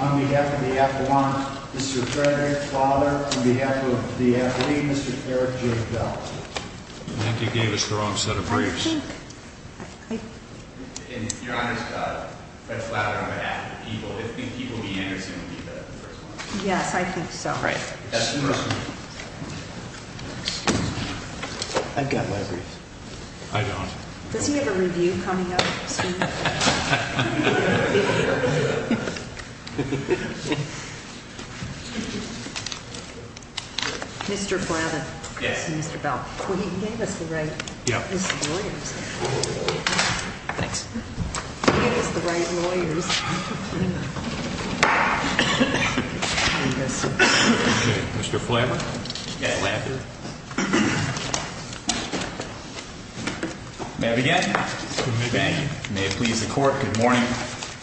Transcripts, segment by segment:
on behalf of the F1, Mr. Frederick Fowler, on behalf of the F3, Mr. Eric J. Bell. I think you gave us the wrong set of briefs. Your Honor's got Fred Fowler on behalf of the people. Do you think people v. Anderson would be the first one? Yes, I think so. That's the question. I've got my briefs. I don't. Does he have a review coming up soon? Mr. Flavin. Yes. Mr. Bell. You gave us the right lawyers. Thanks. You gave us the right lawyers. Mr. Flavin. May I begin? Thank you. May it please the Court, good morning.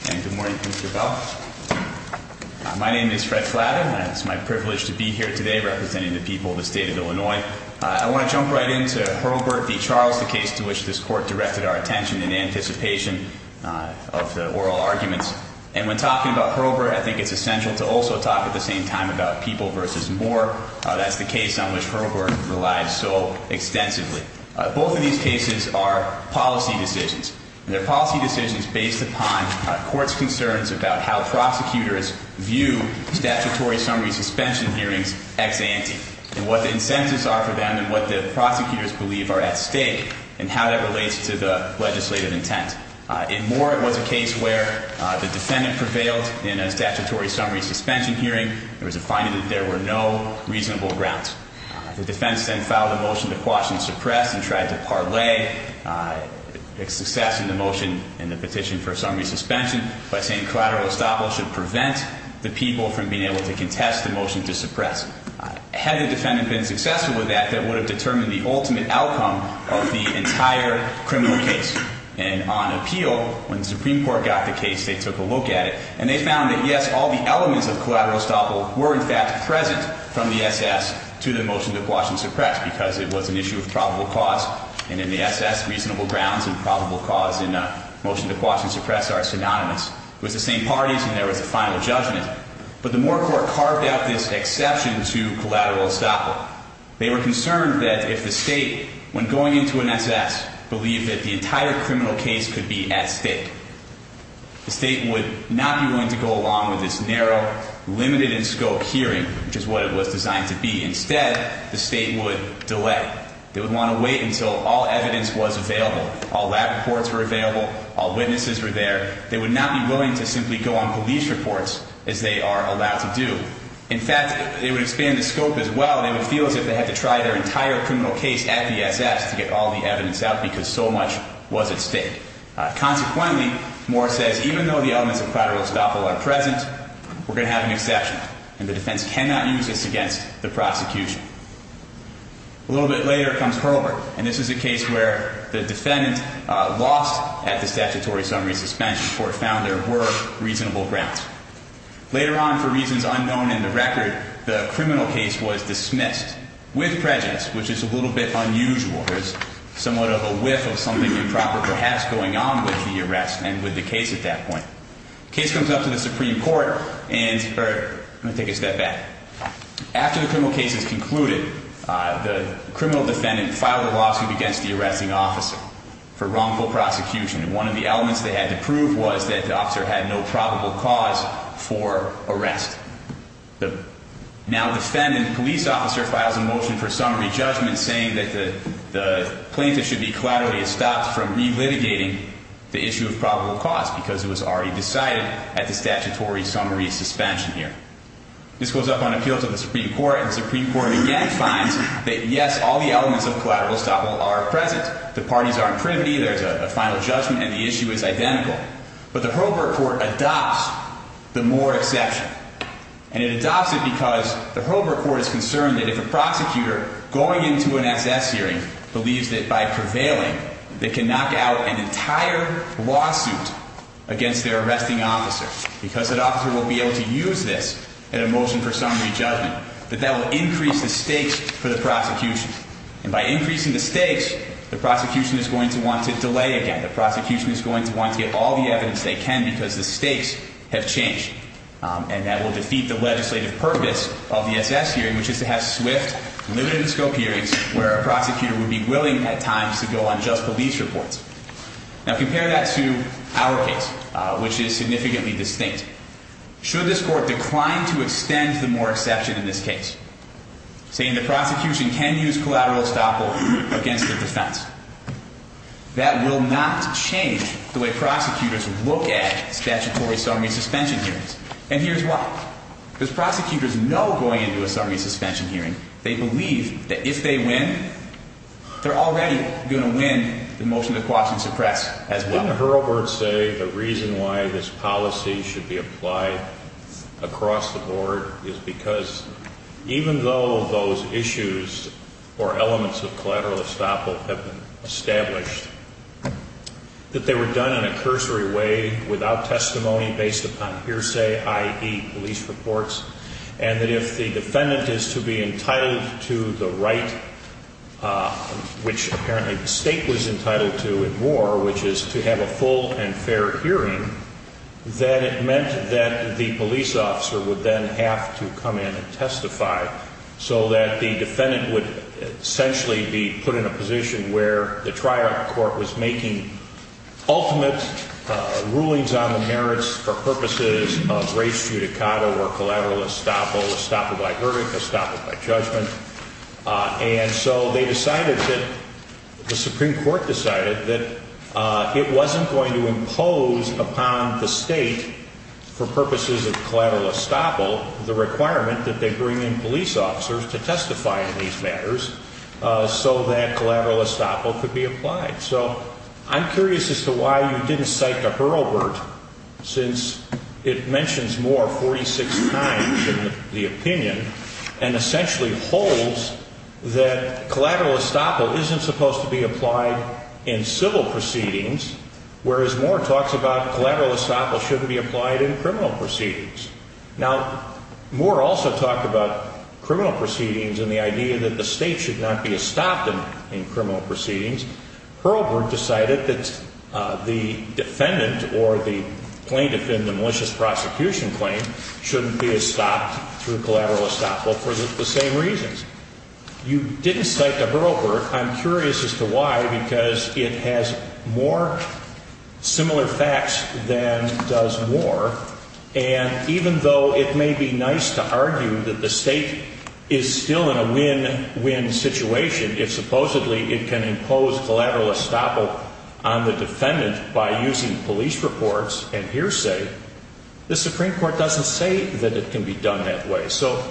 And good morning, Mr. Bell. My name is Fred Flavin. It's my privilege to be here today representing the people of the state of Illinois. I want to jump right into Hurlburt v. Charles, the case to which this Court directed our attention in anticipation of the oral arguments. And when talking about Hurlburt, I think it's essential to also talk at the same time about people v. Moore. That's the case on which Hurlburt relies so extensively. Both of these cases are policy decisions. And they're policy decisions based upon courts' concerns about how prosecutors view statutory summary suspension hearings ex ante. And what the incentives are for them and what the prosecutors believe are at stake and how that relates to the legislative intent. In Moore, it was a case where the defendant prevailed in a statutory summary suspension hearing. There was a finding that there were no reasonable grounds. The defense then filed a motion to quash and suppress and tried to parlay its success in the motion and the petition for summary suspension by saying collateral estoppel should prevent the people from being able to contest the motion to suppress. Had the defendant been successful with that, that would have determined the ultimate outcome of the entire criminal case. And on appeal, when the Supreme Court got the case, they took a look at it. And they found that, yes, all the elements of collateral estoppel were, in fact, present from the SS to the motion to quash and suppress because it was an issue of probable cause. And in the SS, reasonable grounds and probable cause in a motion to quash and suppress are synonymous. It was the same parties, and there was a final judgment. But the Moore court carved out this exception to collateral estoppel. They were concerned that if the state, when going into an SS, believed that the entire criminal case could be at stake, the state would not be willing to go along with this narrow, limited-in-scope hearing, which is what it was designed to be. Instead, the state would delay. They would want to wait until all evidence was available, all lab reports were available, all witnesses were there. They would not be willing to simply go on police reports, as they are allowed to do. In fact, it would expand the scope as well. They would feel as if they had to try their entire criminal case at the SS to get all the evidence out because so much was at stake. Consequently, Moore says, even though the elements of collateral estoppel are present, we're going to have an exception. And the defense cannot use this against the prosecution. A little bit later comes Herbert, and this is a case where the defendant lost at the statutory summary suspension before it found there were reasonable grounds. Later on, for reasons unknown in the record, the criminal case was dismissed with prejudice, which is a little bit unusual. There's somewhat of a whiff of something improper perhaps going on with the arrest and with the case at that point. The case comes up to the Supreme Court, and I'm going to take a step back. After the criminal case is concluded, the criminal defendant filed a lawsuit against the arresting officer for wrongful prosecution. And one of the elements they had to prove was that the officer had no probable cause for arrest. The now defendant police officer files a motion for summary judgment saying that the plaintiff should be collaterally estopped from relitigating the issue of probable cause because it was already decided at the statutory summary suspension here. This goes up on appeal to the Supreme Court, and the Supreme Court again finds that, yes, all the elements of collateral estoppel are present. The parties are in privity. There's a final judgment, and the issue is identical. But the Hobart Court adopts the Moore exception. And it adopts it because the Hobart Court is concerned that if a prosecutor going into an excess hearing believes that by prevailing they can knock out an entire lawsuit against their arresting officer because that officer will be able to use this in a motion for summary judgment, that that will increase the stakes for the prosecution. And by increasing the stakes, the prosecution is going to want to delay again. The prosecution is going to want to get all the evidence they can because the stakes have changed. And that will defeat the legislative purpose of the excess hearing, which is to have swift, limited scope hearings where a prosecutor would be willing at times to go on just police reports. Now compare that to our case, which is significantly distinct. Should this court decline to extend the Moore exception in this case, saying the prosecution can use collateral estoppel against the defense, that will not change the way prosecutors look at statutory summary suspension hearings. And here's why. Because prosecutors know going into a summary suspension hearing, they believe that if they win, they're already going to win the motion to quash and suppress as well. Wouldn't Hurlburt say the reason why this policy should be applied across the board is because even though those issues or elements of collateral estoppel have been established, that they were done in a cursory way without testimony based upon hearsay, i.e., police reports, and that if the defendant is to be entitled to the right, which apparently the state was entitled to at Moore, which is to have a full and fair hearing, that it meant that the police officer would then have to come in and testify so that the defendant would essentially be put in a position where the trial court was making ultimate rulings on the merits for purposes of res judicata or collateral estoppel, estoppel by verdict, estoppel by judgment. And so they decided that the Supreme Court decided that it wasn't going to impose upon the state for purposes of collateral estoppel the requirement that they bring in police officers to testify on these matters so that collateral estoppel could be applied. So I'm curious as to why you didn't cite the Hurlburt since it mentions Moore 46 times in the opinion and essentially holds that collateral estoppel isn't supposed to be applied in civil proceedings, whereas Moore talks about collateral estoppel shouldn't be applied in criminal proceedings. Now, Moore also talked about criminal proceedings and the idea that the state should not be estopped in criminal proceedings. Hurlburt decided that the defendant or the plaintiff in the malicious prosecution claim shouldn't be estopped through collateral estoppel for the same reasons. You didn't cite the Hurlburt. I'm curious as to why, because it has more similar facts than does Moore. And even though it may be nice to argue that the state is still in a win-win situation if supposedly it can impose collateral estoppel on the defendant by using police reports and hearsay, the Supreme Court doesn't say that it can be done that way. So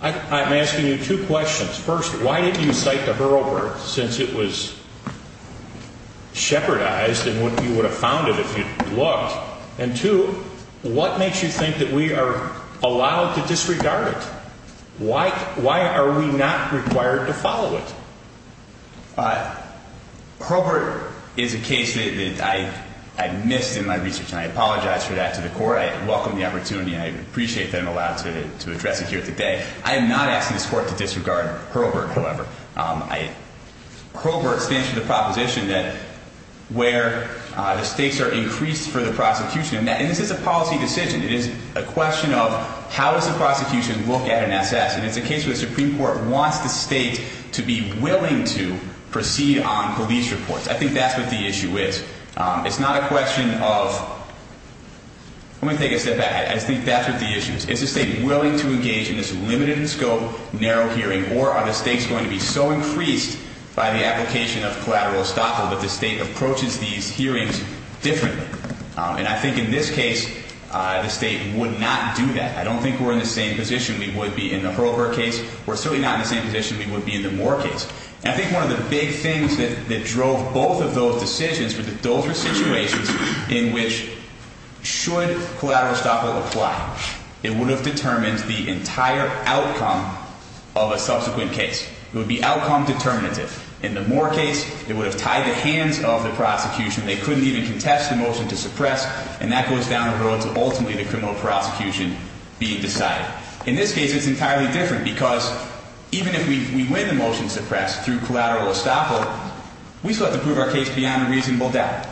I'm asking you two questions. First, why didn't you cite the Hurlburt since it was shepherdized and you would have found it if you'd looked? And two, what makes you think that we are allowed to disregard it? Why are we not required to follow it? Hurlburt is a case that I missed in my research, and I apologize for that to the Court. I welcome the opportunity, and I appreciate that I'm allowed to address it here today. I am not asking this Court to disregard Hurlburt, however. Hurlburt stands for the proposition that where the stakes are increased for the prosecution, and this is a policy decision, it is a question of how does the prosecution look at an SS, and it's a case where the Supreme Court wants the state to be willing to proceed on police reports. I think that's what the issue is. It's not a question of – let me take a step back. I think that's what the issue is. Is the state willing to engage in this limited-in-scope, narrow hearing, or are the stakes going to be so increased by the application of collateral estoppel that the state approaches these hearings differently? And I think in this case the state would not do that. I don't think we're in the same position we would be in the Hurlburt case. We're certainly not in the same position we would be in the Moore case. And I think one of the big things that drove both of those decisions was that those were situations in which, should collateral estoppel apply, it would have determined the entire outcome of a subsequent case. It would be outcome determinative. In the Moore case, it would have tied the hands of the prosecution. They couldn't even contest the motion to suppress, and that goes down the road to ultimately the criminal prosecution being decided. In this case, it's entirely different, because even if we win the motion to suppress through collateral estoppel, we still have to prove our case beyond a reasonable doubt.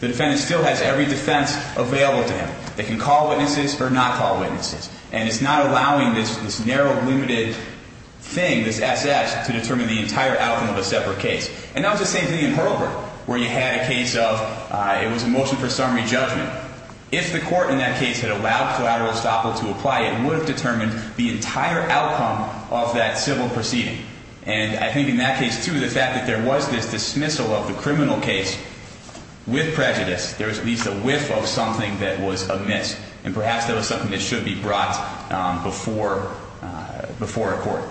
The defendant still has every defense available to him. They can call witnesses or not call witnesses. And it's not allowing this narrow, limited thing, this SS, to determine the entire outcome of a separate case. And that was the same thing in Hurlburt, where you had a case of it was a motion for summary judgment. If the court in that case had allowed collateral estoppel to apply, it would have determined the entire outcome of that civil proceeding. And I think in that case, too, the fact that there was this dismissal of the criminal case with prejudice, there was at least a whiff of something that was amiss, and perhaps that was something that should be brought before a court.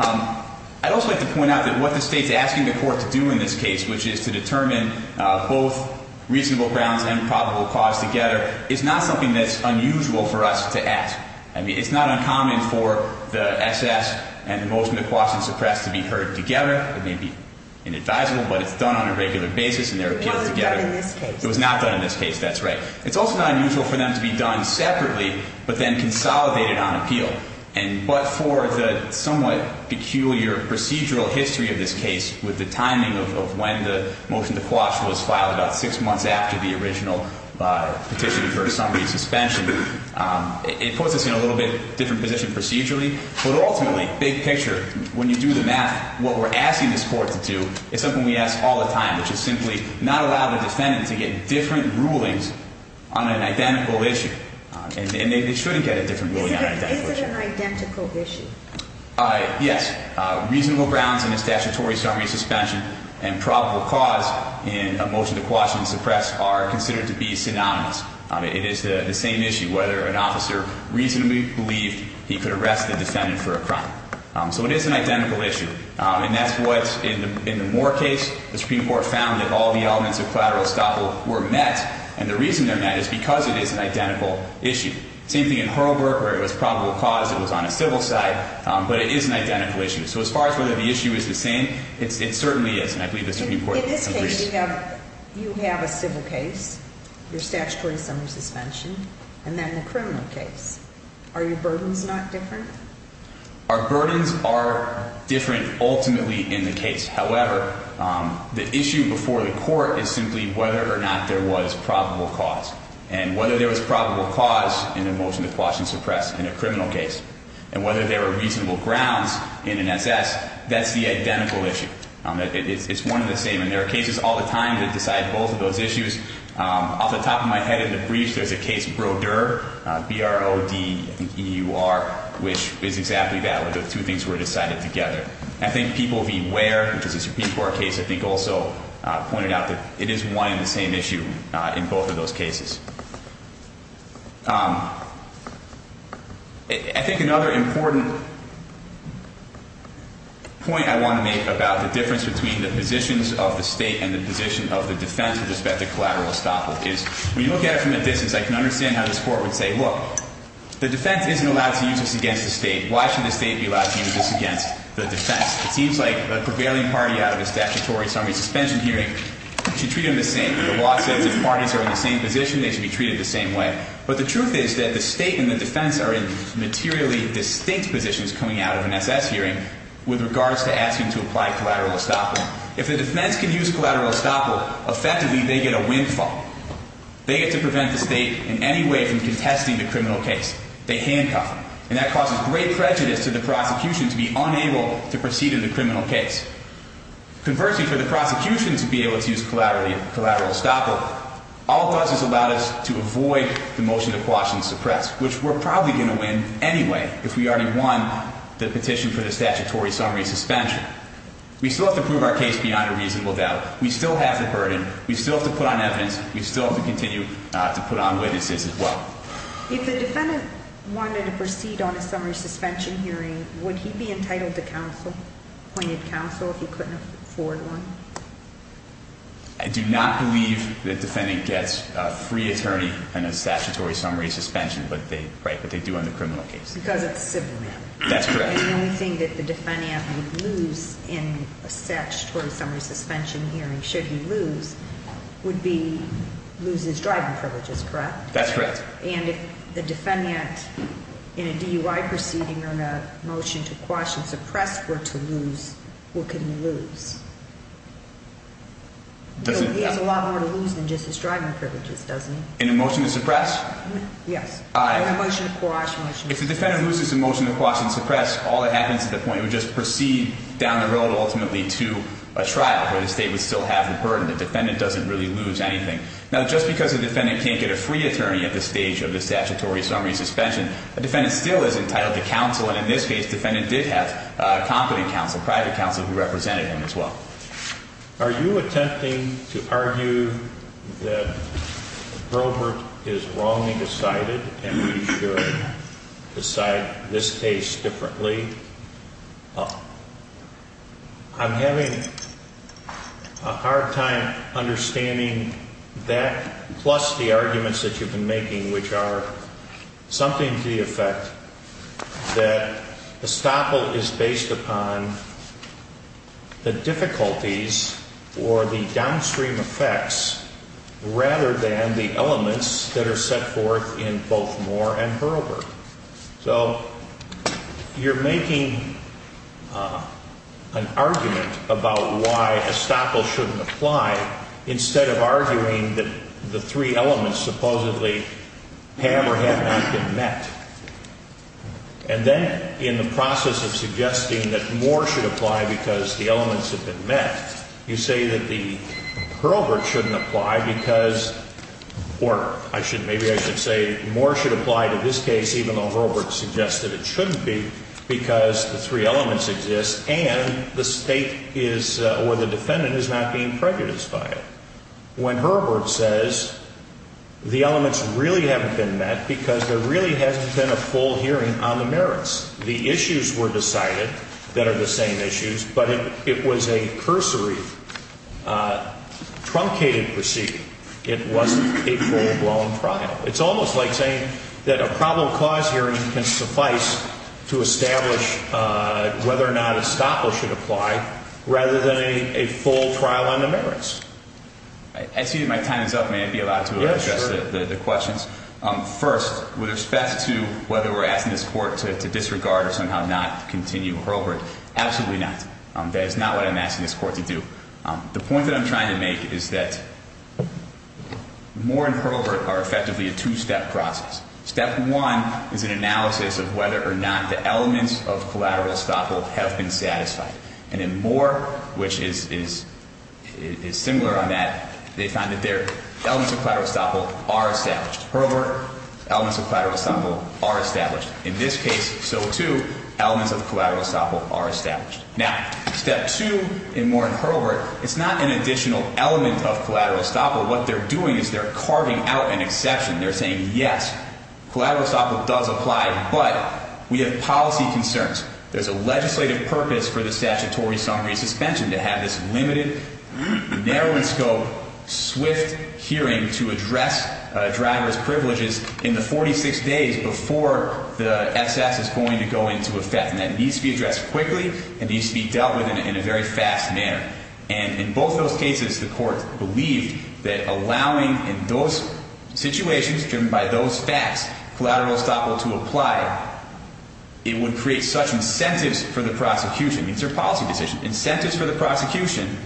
I'd also like to point out that what the state's asking the court to do in this case, which is to determine both reasonable grounds and probable cause together, is not something that's unusual for us to ask. I mean, it's not uncommon for the SS and the motion to quash and suppress to be heard together. It may be inadvisable, but it's done on a regular basis, and they're appealed together. It wasn't done in this case. It was not done in this case, that's right. It's also not unusual for them to be done separately, but then consolidated on appeal. And but for the somewhat peculiar procedural history of this case, with the timing of when the motion to quash was filed, about six months after the original petition for a summary suspension, it puts us in a little bit different position procedurally. But ultimately, big picture, when you do the math, what we're asking this court to do is something we ask all the time, which is simply not allow the defendant to get different rulings on an identical issue. And they shouldn't get a different ruling on an identical issue. Is it an identical issue? Yes. Reasonable grounds in a statutory summary suspension and probable cause in a motion to quash and suppress are considered to be synonymous. It is the same issue, whether an officer reasonably believed he could arrest the defendant for a crime. So it is an identical issue. And that's what, in the Moore case, the Supreme Court found that all the elements of collateral estoppel were met, and the reason they're met is because it is an identical issue. Same thing in Hurlburt, where it was probable cause, it was on a civil side, but it is an identical issue. So as far as whether the issue is the same, it certainly is, and I believe the Supreme Court agrees. In this case, you have a civil case, your statutory summary suspension, and then the criminal case. Are your burdens not different? Our burdens are different, ultimately, in the case. However, the issue before the court is simply whether or not there was probable cause, and whether there was probable cause in a motion to quash and suppress in a criminal case, and whether there were reasonable grounds in an SS, that's the identical issue. It's one and the same, and there are cases all the time that decide both of those issues. Off the top of my head in the briefs, there's a case Broder, B-R-O-D-E-U-R, which is exactly that, where the two things were decided together. I think People v. Ware, which is a Supreme Court case, I think also pointed out that it is one and the same issue in both of those cases. I think another important point I want to make about the difference between the positions of the State and the position of the defense with respect to collateral estoppel is, when you look at it from a distance, I can understand how this Court would say, look, the defense isn't allowed to use this against the State. Why should the State be allowed to use this against the defense? It seems like the prevailing party out of a statutory summary suspension hearing should treat them the same. The law says if parties are in the same position, they should be treated the same way. But the truth is that the State and the defense are in materially distinct positions coming out of an SS hearing with regards to asking to apply collateral estoppel. If the defense can use collateral estoppel, effectively they get a windfall. They get to prevent the State in any way from contesting the criminal case. They handcuff them, and that causes great prejudice to the prosecution to be unable to proceed in the criminal case. Conversely, for the prosecution to be able to use collateral estoppel, all it does is allow us to avoid the motion to quash and suppress, which we're probably going to win anyway if we already won the petition for the statutory summary suspension. We still have to prove our case beyond a reasonable doubt. We still have the burden. We still have to put on evidence. We still have to continue to put on witnesses as well. If the defendant wanted to proceed on a summary suspension hearing, would he be entitled to counsel, appointed counsel, if he couldn't afford one? I do not believe the defendant gets a free attorney and a statutory summary suspension, but they do in the criminal case. Because it's a civil matter. That's correct. And the only thing that the defendant would lose in a statutory summary suspension hearing, should he lose, would be lose his driving privileges, correct? That's correct. And if the defendant in a DUI proceeding on a motion to quash and suppress were to lose, what could he lose? He has a lot more to lose than just his driving privileges, doesn't he? In a motion to suppress? Yes. Or a motion to quash. If the defendant loses a motion to quash and suppress, all that happens at the point, we just proceed down the road ultimately to a trial where the state would still have the burden. The defendant doesn't really lose anything. Now, just because a defendant can't get a free attorney at the stage of the statutory summary suspension, a defendant still is entitled to counsel. And in this case, the defendant did have competent counsel, private counsel who represented him as well. Are you attempting to argue that Brovert is wrongly decided and we should decide this case differently? I'm having a hard time understanding that plus the arguments that you've been making, which are something to the effect that estoppel is based upon the difficulties or the downstream effects rather than the elements that are set forth in both Moore and Brovert. So you're making an argument about why estoppel shouldn't apply instead of arguing that the three elements supposedly have or have not been met. And then in the process of suggesting that Moore should apply because the elements have been met, you say that Brovert shouldn't apply because, or maybe I should say Moore should apply to this case even though Brovert suggested it shouldn't be because the three elements exist and the state or the defendant is not being prejudiced by it. When Brovert says the elements really haven't been met because there really hasn't been a full hearing on the merits, the issues were decided that are the same issues, but it was a cursory, truncated proceeding. It wasn't a full-blown trial. It's almost like saying that a problem cause hearing can suffice to establish whether or not estoppel should apply rather than a full trial on the merits. Excuse me, my time is up. May I be allowed to address the questions? First, with respect to whether we're asking this Court to disregard or somehow not continue Hurlburt, absolutely not. That is not what I'm asking this Court to do. The point that I'm trying to make is that Moore and Hurlburt are effectively a two-step process. Step one is an analysis of whether or not the elements of collateral estoppel have been satisfied. And in Moore, which is similar on that, they found that their elements of collateral estoppel are established. Hurlburt, elements of collateral estoppel are established. In this case, so too, elements of collateral estoppel are established. Now, step two in Moore and Hurlburt, it's not an additional element of collateral estoppel. What they're doing is they're carving out an exception. They're saying, yes, collateral estoppel does apply, but we have policy concerns. There's a legislative purpose for the statutory summary suspension to have this limited narrowing scope, swift hearing to address driver's privileges in the 46 days before the SS is going to go into effect. And that needs to be addressed quickly and needs to be dealt with in a very fast manner. And in both those cases, the Court believed that allowing in those situations, driven by those facts, collateral estoppel to apply, it would create such incentives for the prosecution. These are policy decisions. Incentives for the prosecution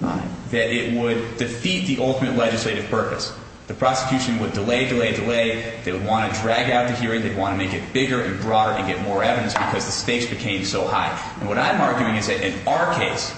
that it would defeat the ultimate legislative purpose. The prosecution would delay, delay, delay. They would want to drag out the hearing. They'd want to make it bigger and broader and get more evidence because the stakes became so high. And what I'm arguing is that in our case,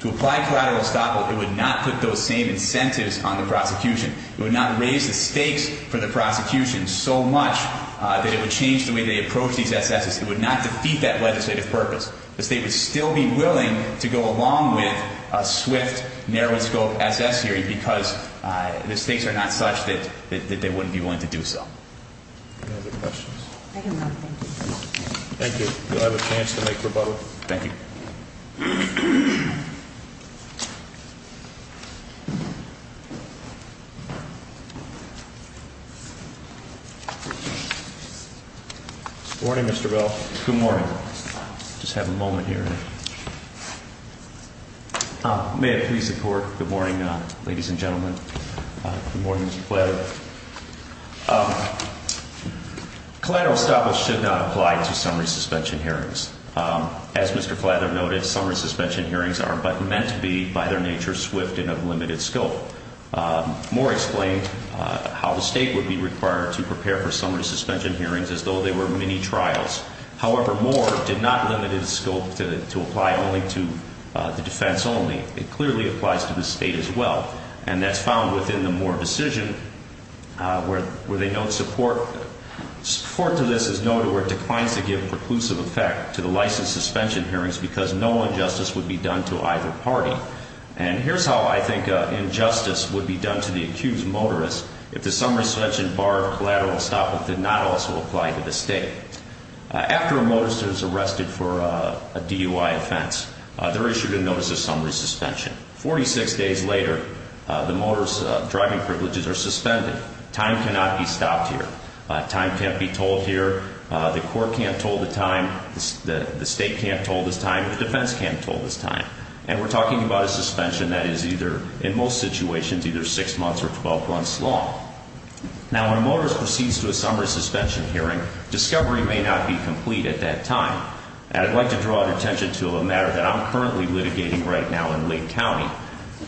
to apply collateral estoppel, it would not put those same incentives on the prosecution. It would not raise the stakes for the prosecution so much that it would change the way they approach these SSs. It would not defeat that legislative purpose. The state would still be willing to go along with a swift, narrowing scope SS hearing because the stakes are not such that they wouldn't be willing to do so. Any other questions? I have nothing. Thank you. Do I have a chance to make rebuttal? Thank you. Good morning, Mr. Bell. Good morning. Just have a moment here. May it please the Court. Good morning, ladies and gentlemen. Good morning, Mr. Clather. Collateral estoppel should not apply to summary suspension hearings. As Mr. Clather noted, summary suspension hearings are but meant to be by their nature swift and of limited scope. Moore explained how the state would be required to prepare for summary suspension hearings as though they were mini-trials. However, Moore did not limit its scope to apply only to the defense only. It clearly applies to the state as well. And that's found within the Moore decision where they note support to this is noted where it declines to give preclusive effect to the licensed suspension hearings because no injustice would be done to either party. And here's how I think injustice would be done to the accused motorist if the summary suspension bar of collateral estoppel did not also apply to the state. After a motorist is arrested for a DUI offense, they're issued a notice of summary suspension. Forty-six days later, the motorist's driving privileges are suspended. Time cannot be stopped here. Time can't be told here. The court can't tell the time. The state can't tell the time. The defense can't tell the time. And we're talking about a suspension that is either, in most situations, either six months or 12 months long. Now, when a motorist proceeds to a summary suspension hearing, discovery may not be complete at that time. And I'd like to draw your attention to a matter that I'm currently litigating right now in Lake County.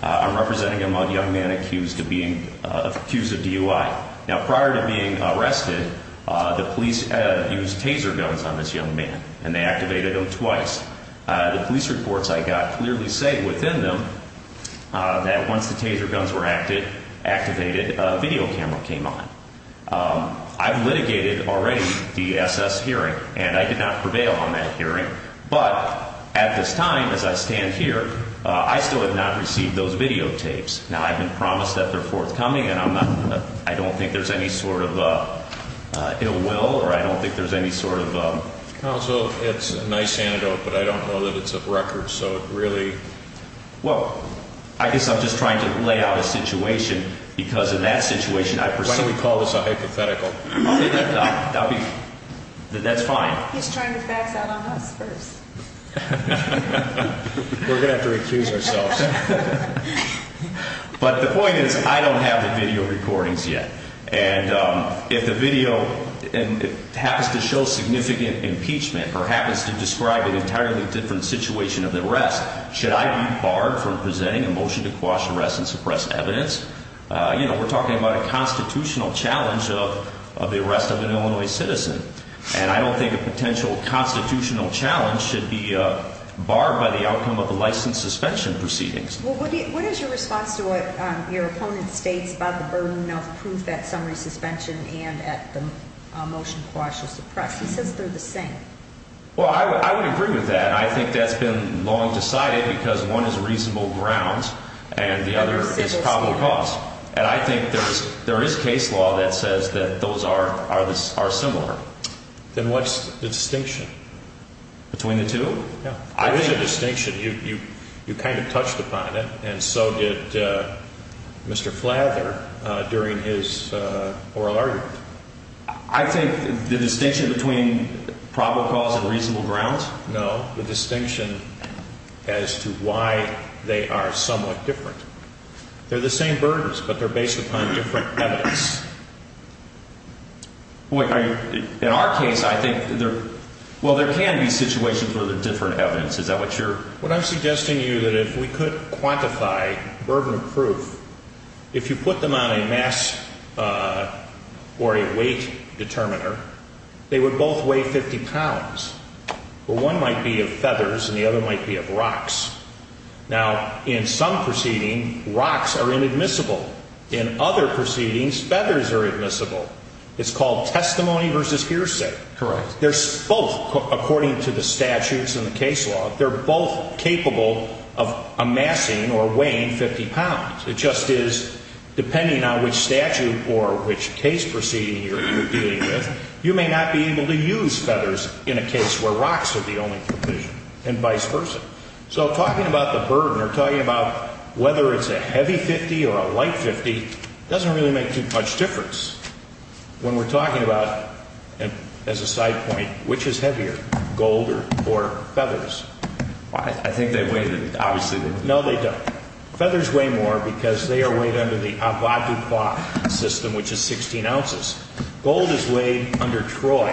I'm representing a young man accused of DUI. Now, prior to being arrested, the police used taser guns on this young man, and they activated them twice. The police reports I got clearly say within them that once the taser guns were activated, a video camera came on. I've litigated already the SS hearing, and I did not prevail on that hearing. But at this time, as I stand here, I still have not received those videotapes. Now, I've been promised that they're forthcoming, and I don't think there's any sort of ill will or I don't think there's any sort of ‑‑ Also, it's a nice antidote, but I don't know that it's a record, so it really ‑‑ Well, I guess I'm just trying to lay out a situation, because in that situation, I personally ‑‑ Why don't we call this a hypothetical? That's fine. He's trying the facts out on us first. We're going to have to recuse ourselves. But the point is, I don't have the video recordings yet. And if the video happens to show significant impeachment or happens to describe an entirely different situation of the arrest, should I be barred from presenting a motion to quash arrest and suppress evidence? You know, we're talking about a constitutional challenge of the arrest of an Illinois citizen, and I don't think a potential constitutional challenge should be barred by the outcome of the license suspension proceedings. Well, what is your response to what your opponent states about the burden of proof at summary suspension and at the motion to quash or suppress? He says they're the same. Well, I would agree with that. I think that's been long decided because one is reasonable grounds and the other is probable cause. And I think there is case law that says that those are similar. Then what's the distinction? Between the two? There is a distinction. You kind of touched upon it, and so did Mr. Flather during his oral argument. I think the distinction between probable cause and reasonable grounds? No, the distinction as to why they are somewhat different. They're the same burdens, but they're based upon different evidence. In our case, I think there can be situations where they're different evidence. Is that what you're? What I'm suggesting to you is that if we could quantify burden of proof, if you put them on a mass or a weight determiner, they would both weigh 50 pounds, where one might be of feathers and the other might be of rocks. Now, in some proceedings, rocks are inadmissible. In other proceedings, feathers are admissible. It's called testimony versus hearsay. Correct. They're both, according to the statutes and the case law, they're both capable of amassing or weighing 50 pounds. It just is, depending on which statute or which case proceeding you're dealing with, you may not be able to use feathers in a case where rocks are the only provision and vice versa. So talking about the burden or talking about whether it's a heavy 50 or a light 50 doesn't really make too much difference. When we're talking about, as a side point, which is heavier, gold or feathers? I think they weigh, obviously, more. No, they don't. Feathers weigh more because they are weighed under the Ava DuPont system, which is 16 ounces. Gold is weighed under Troy,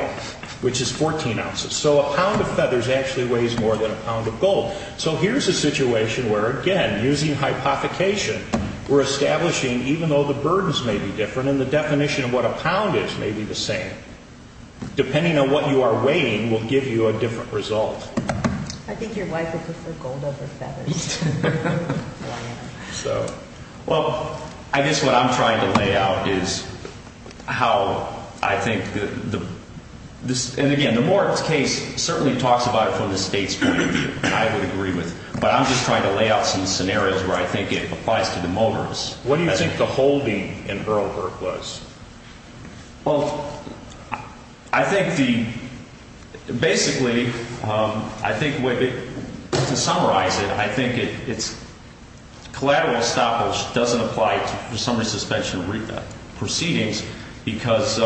which is 14 ounces. So a pound of feathers actually weighs more than a pound of gold. So here's a situation where, again, using hypothecation, we're establishing, even though the burdens may be different and the definition of what a pound is may be the same, depending on what you are weighing will give you a different result. So, well, I guess what I'm trying to lay out is how I think the – and, again, the Morton case certainly talks about it from the State's point of view, I would agree with, but I'm just trying to lay out some scenarios where I think it applies to the Motors. What do you think the holding in Earlburg was? Well, I think the – basically, I think to summarize it, I think it's collateral estoppel doesn't apply to summary suspension proceedings because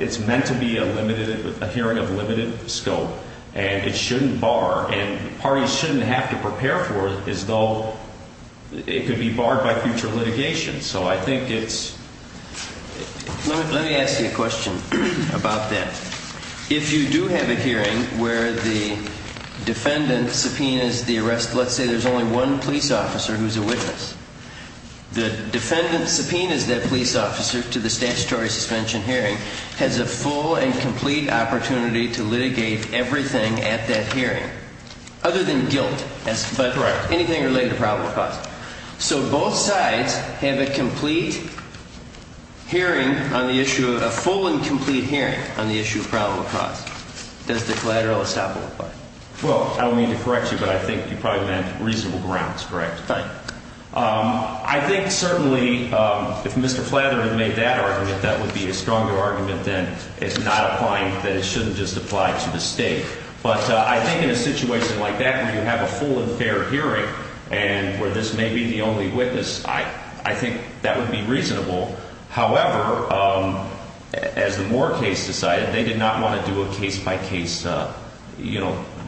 it's meant to be a limited – a hearing of limited scope, and it shouldn't bar. And parties shouldn't have to prepare for it as though it could be barred by future litigation. So I think it's – Let me ask you a question about that. If you do have a hearing where the defendant subpoenas the arrest – let's say there's only one police officer who's a witness. The defendant subpoenas that police officer to the statutory suspension hearing has a full and complete opportunity to litigate everything at that hearing, other than guilt, but anything related to probable cause. So both sides have a complete hearing on the issue – a full and complete hearing on the issue of probable cause. Does the collateral estoppel apply? Well, I don't mean to correct you, but I think you probably meant reasonable grounds, correct? Right. I think certainly if Mr. Flather had made that argument, that would be a stronger argument than it's not applying, that it shouldn't just apply to the State. But I think in a situation like that where you have a full and fair hearing and where this may be the only witness, I think that would be reasonable. However, as the Moore case decided, they did not want to do a case-by-case –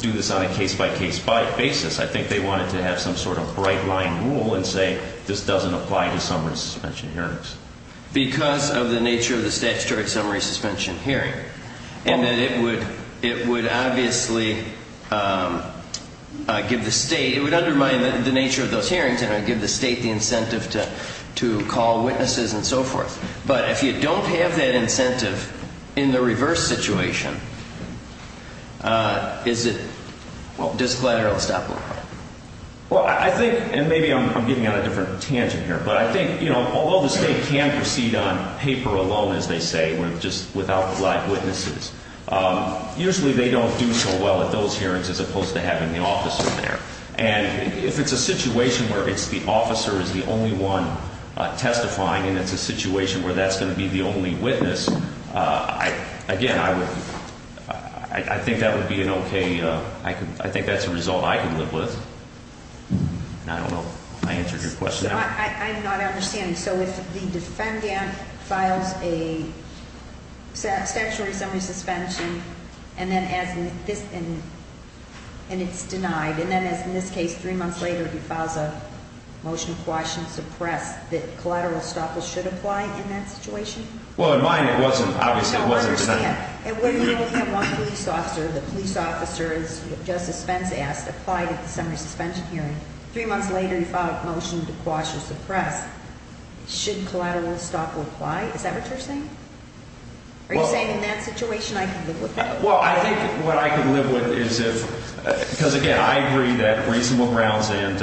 do this on a case-by-case basis. I think they wanted to have some sort of bright-line rule and say, this doesn't apply to summary suspension hearings. Because of the nature of the statutory summary suspension hearing, and that it would obviously give the State – it would undermine the nature of those hearings, and it would give the State the incentive to call witnesses and so forth. But if you don't have that incentive in the reverse situation, is it – well, does collateral estoppel apply? Well, I think – and maybe I'm getting on a different tangent here, but I think although the State can proceed on paper alone, as they say, just without live witnesses, usually they don't do so well at those hearings as opposed to having the officer there. And if it's a situation where it's the officer is the only one testifying and it's a situation where that's going to be the only witness, again, I would – I think that would be an okay – I think that's a result I can live with. And I don't know if I answered your question. I'm not understanding. So if the defendant files a statutory summary suspension, and then as in this – and it's denied, and then as in this case three months later he files a motion to quash and suppress, that collateral estoppel should apply in that situation? Well, in mine it wasn't. Obviously it wasn't. I don't understand. You only have one police officer. The police officer, as Justice Spence asked, applied at the summary suspension hearing. Three months later he filed a motion to quash or suppress. Should collateral estoppel apply? Is that what you're saying? Are you saying in that situation I can live with that? Well, I think what I can live with is if – because, again, I agree that reasonable grounds and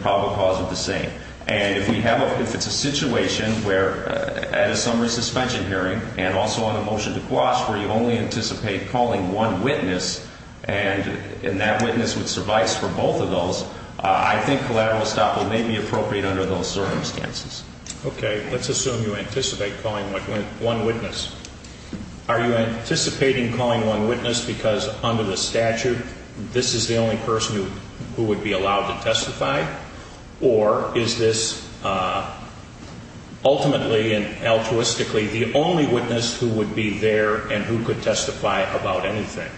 probable cause are the same. And if we have a – if it's a situation where at a summary suspension hearing and also on a motion to quash where you only anticipate calling one witness and that witness would suffice for both of those, I think collateral estoppel may be appropriate under those circumstances. Okay. Let's assume you anticipate calling one witness. Are you anticipating calling one witness because under the statute this is the only person who would be allowed to testify, or is this ultimately and altruistically the only witness who would be there and who could testify about anything?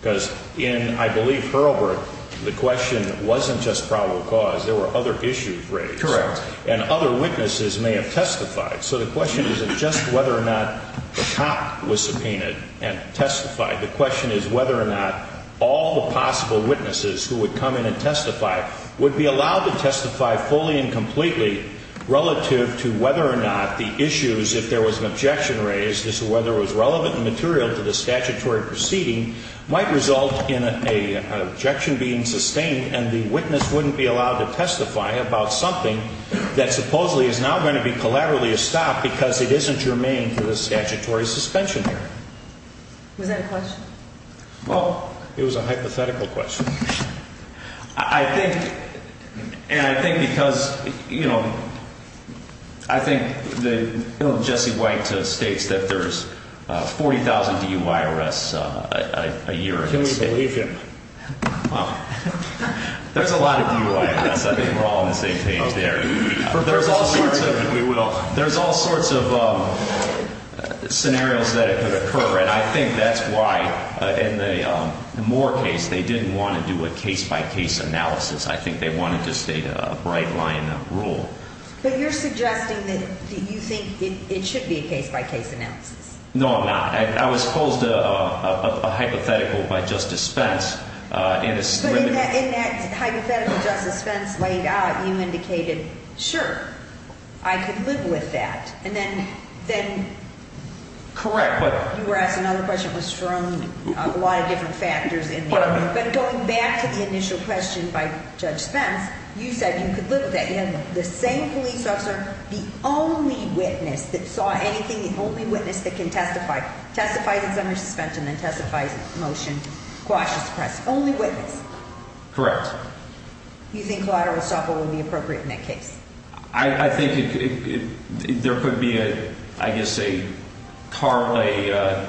Because in, I believe, Hurlburt, the question wasn't just probable cause. There were other issues raised. Correct. And other witnesses may have testified. So the question isn't just whether or not the cop was subpoenaed and testified. The question is whether or not all the possible witnesses who would come in and testify would be allowed to testify fully and completely relative to whether or not the issues, if there was an objection raised as to whether it was relevant and material to the statutory proceeding, might result in an objection being sustained and the witness wouldn't be allowed to testify about something that supposedly is now going to be collaterally estopped because it isn't germane to the statutory suspension hearing. Was that a question? Well, it was a hypothetical question. I think, and I think because, you know, I think that Jesse White states that there's 40,000 DUI arrests a year. Can we believe him? There's a lot of DUI arrests. I think we're all on the same page there. There's all sorts of scenarios that could occur, and I think that's why, in the Moore case, they didn't want to do a case-by-case analysis. I think they wanted to state a bright-line rule. But you're suggesting that you think it should be a case-by-case analysis. No, I'm not. I was posed a hypothetical by Justice Spence. But in that hypothetical Justice Spence laid out, you indicated, sure, I could live with that. And then you were asked another question that was thrown a lot of different factors in there. But going back to the initial question by Judge Spence, you said you could live with that. You had the same police officer, the only witness that saw anything, the only witness that can testify, testifies it's under suspension, then testifies it's a motion, quashes the press. Only witness. Correct. You think collateral estoppel would be appropriate in that case? I think there could be, I guess, a car play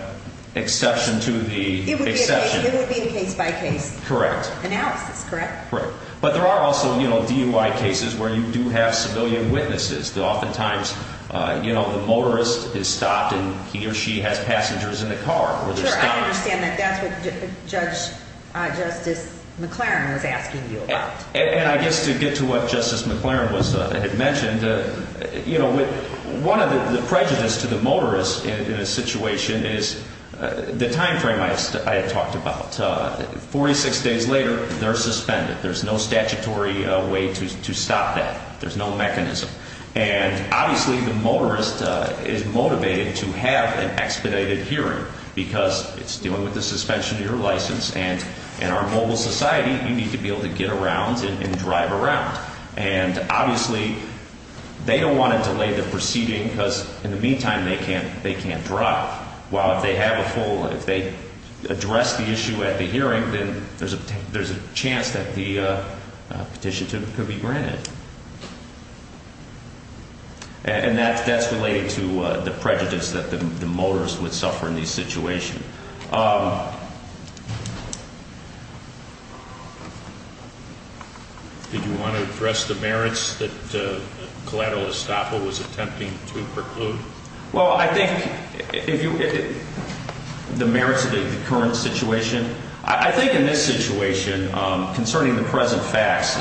exception to the exception. It would be a case-by-case analysis, correct? Correct. But there are also DUI cases where you do have civilian witnesses. Oftentimes the motorist is stopped and he or she has passengers in the car. Sure, I understand that. That's what Judge Justice McLaren was asking you about. And I guess to get to what Justice McLaren had mentioned, one of the prejudices to the motorist in a situation is the time frame I had talked about. 46 days later, they're suspended. There's no statutory way to stop that. There's no mechanism. And obviously the motorist is motivated to have an expedited hearing because it's dealing with the suspension of your license. And in our mobile society, you need to be able to get around and drive around. And obviously they don't want to delay the proceeding because in the meantime they can't drive. While if they have a full, if they address the issue at the hearing, then there's a chance that the petition could be granted. And that's related to the prejudice that the motorist would suffer in these situations. Did you want to address the merits that collateral estoppel was attempting to preclude? Well, I think the merits of the current situation, I think in this situation concerning the present facts,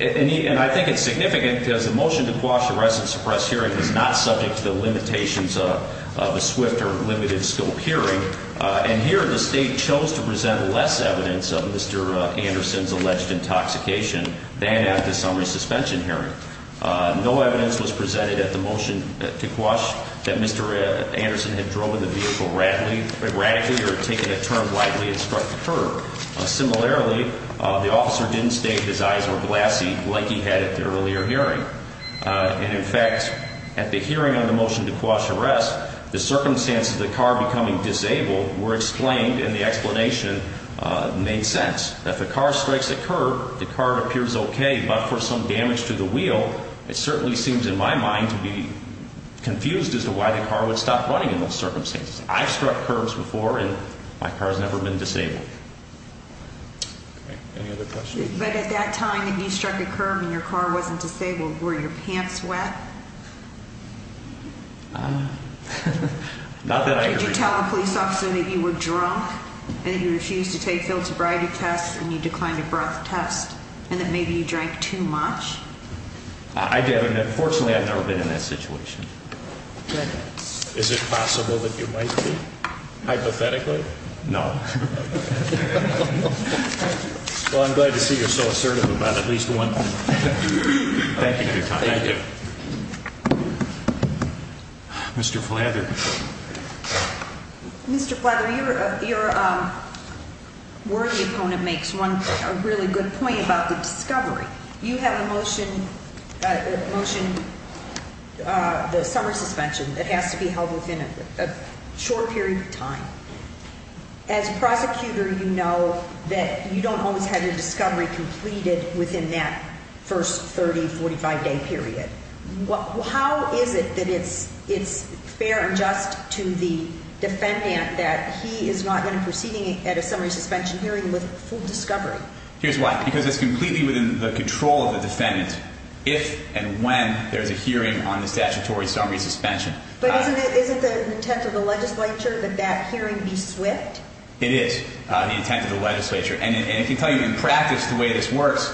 and I think it's significant because the motion to quash the rest of the suppressed hearing is not subject to the limitations of a swift or limited scope hearing. And here the state chose to present less evidence of Mr. Anderson's alleged intoxication than at the summary suspension hearing. No evidence was presented at the motion to quash that Mr. Anderson had driven the vehicle radically or taken a turn widely and struck the curb. Similarly, the officer didn't state his eyes were glassy like he had at the earlier hearing. And in fact, at the hearing on the motion to quash the rest, the circumstances of the car becoming disabled were explained and the explanation made sense. If a car strikes a curb, the car appears okay, but for some damage to the wheel, it certainly seems in my mind to be confused as to why the car would stop running in those circumstances. I've struck curbs before, and my car has never been disabled. Okay. Any other questions? But at that time that you struck a curb and your car wasn't disabled, were your pants wet? Not that I agree. Did you tell the police officer that you were drunk and that you refused to take philosophy tests and you declined a breath test and that maybe you drank too much? I did, and unfortunately I've never been in that situation. Is it possible that you might be? Hypothetically? No. Well, I'm glad to see you're so assertive about at least one thing. Thank you for your time. Thank you. Mr. Flather. Mr. Flather, your worthy opponent makes one really good point about the discovery. You have a motion, the summary suspension that has to be held within a short period of time. As a prosecutor, you know that you don't always have your discovery completed within that first 30, 45-day period. How is it that it's fair and just to the defendant that he is not going to be proceeding at a summary suspension hearing with full discovery? Here's why. Because it's completely within the control of the defendant if and when there's a hearing on the statutory summary suspension. But isn't the intent of the legislature that that hearing be swift? It is the intent of the legislature. And I can tell you in practice the way this works,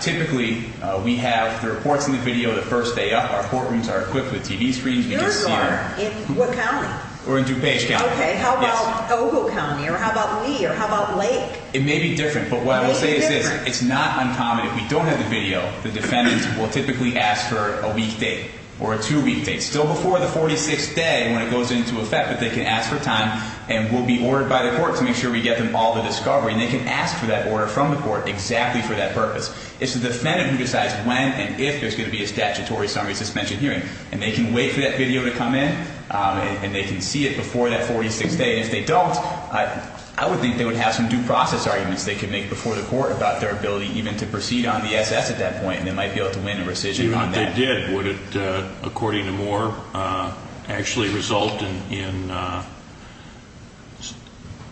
typically we have the reports in the video the first day up. Our courtrooms are equipped with TV screens. Yours are? In what county? We're in DuPage County. Okay, how about Ogle County or how about Lee or how about Lake? It may be different, but what I will say is this. It's not uncommon. If we don't have the video, the defendant will typically ask for a week date or a two-week date, still before the 46th day when it goes into effect, but they can ask for time. And we'll be ordered by the court to make sure we get them all the discovery. And they can ask for that order from the court exactly for that purpose. It's the defendant who decides when and if there's going to be a statutory summary suspension hearing. And they can wait for that video to come in, and they can see it before that 46th day. If they don't, I would think they would have some due process arguments they could make before the court about their ability even to proceed on the SS at that point, and they might be able to win a rescission on that. If they did, would it, according to Moore, actually result in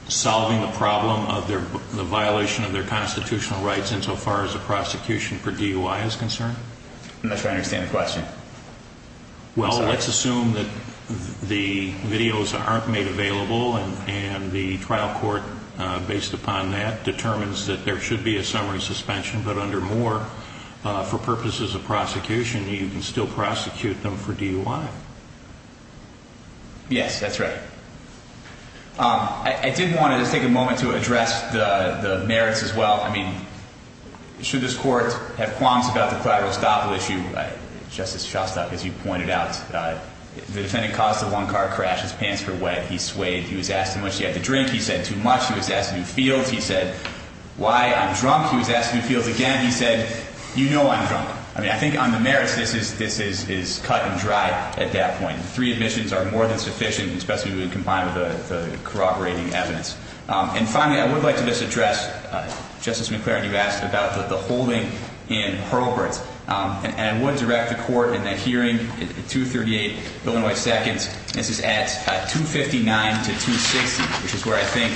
solving the problem of the violation of their constitutional rights insofar as the prosecution per DUI is concerned? I'm not sure I understand the question. Well, let's assume that the videos aren't made available, and the trial court, based upon that, determines that there should be a summary suspension. But under Moore, for purposes of prosecution, you can still prosecute them for DUI. Yes, that's right. I did want to just take a moment to address the merits as well. I mean, should this court have qualms about the collateral estoppel issue, Justice Shostak, as you pointed out, the defendant caused a one-car crash. His pants were wet. He swayed. He was asked too much. He had to drink. He said too much. He was asked to do fields. He said, why? I'm drunk. He was asked to do fields again. He said, you know I'm drunk. I mean, I think on the merits, this is cut and dry at that point. Three admissions are more than sufficient, especially when you combine it with the corroborating evidence. And finally, I would like to just address, Justice McClaren, you asked about the holding in Hurlburt. And I would direct the court in that hearing, 238 Illinois Seconds. This is at 259 to 260, which is where I think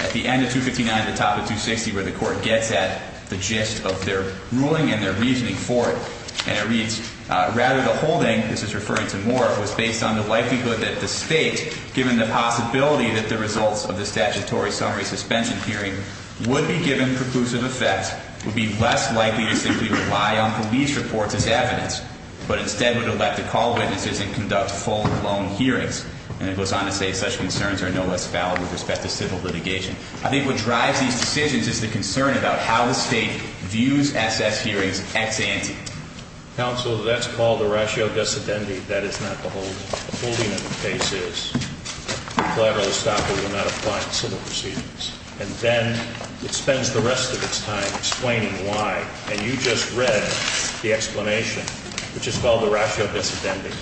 at the end of 259, the top of 260, where the court gets at the gist of their ruling and their reasoning for it. And it reads, rather the holding, this is referring to Moore, was based on the likelihood that the state, given the possibility that the results of the statutory summary suspension hearing would be given preclusive effect, would be less likely to simply rely on police reports as evidence, but instead would elect to call witnesses and conduct full, long hearings. And it goes on to say, such concerns are no less valid with respect to civil litigation. I think what drives these decisions is the concern about how the state views SS hearings ex ante. Counsel, that's called a ratio dissidenti. That is not the holding. The rationale of the case is the collateral estoppel will not apply in civil proceedings. And then it spends the rest of its time explaining why. And you just read the explanation, which is called the ratio dissidenti.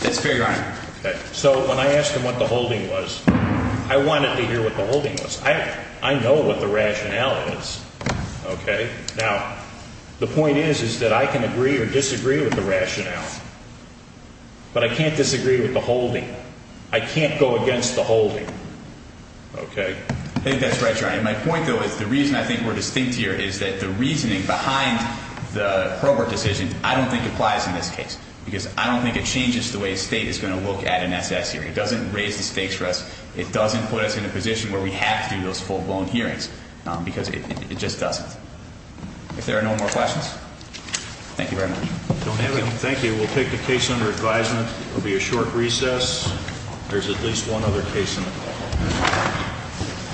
That's very right. Okay. So when I asked him what the holding was, I wanted to hear what the holding was. I know what the rationale is. Okay. Now, the point is, is that I can agree or disagree with the rationale. But I can't disagree with the holding. I can't go against the holding. Okay. I think that's right, Your Honor. And my point, though, is the reason I think we're distinct here is that the reasoning behind the Probert decision, I don't think applies in this case because I don't think it changes the way a state is going to look at an SS hearing. It doesn't raise the stakes for us. It doesn't put us in a position where we have to do those full-blown hearings because it just doesn't. If there are no more questions, thank you very much. Thank you. We'll take the case under advisement. It will be a short recess. There's at least one other case in the hall.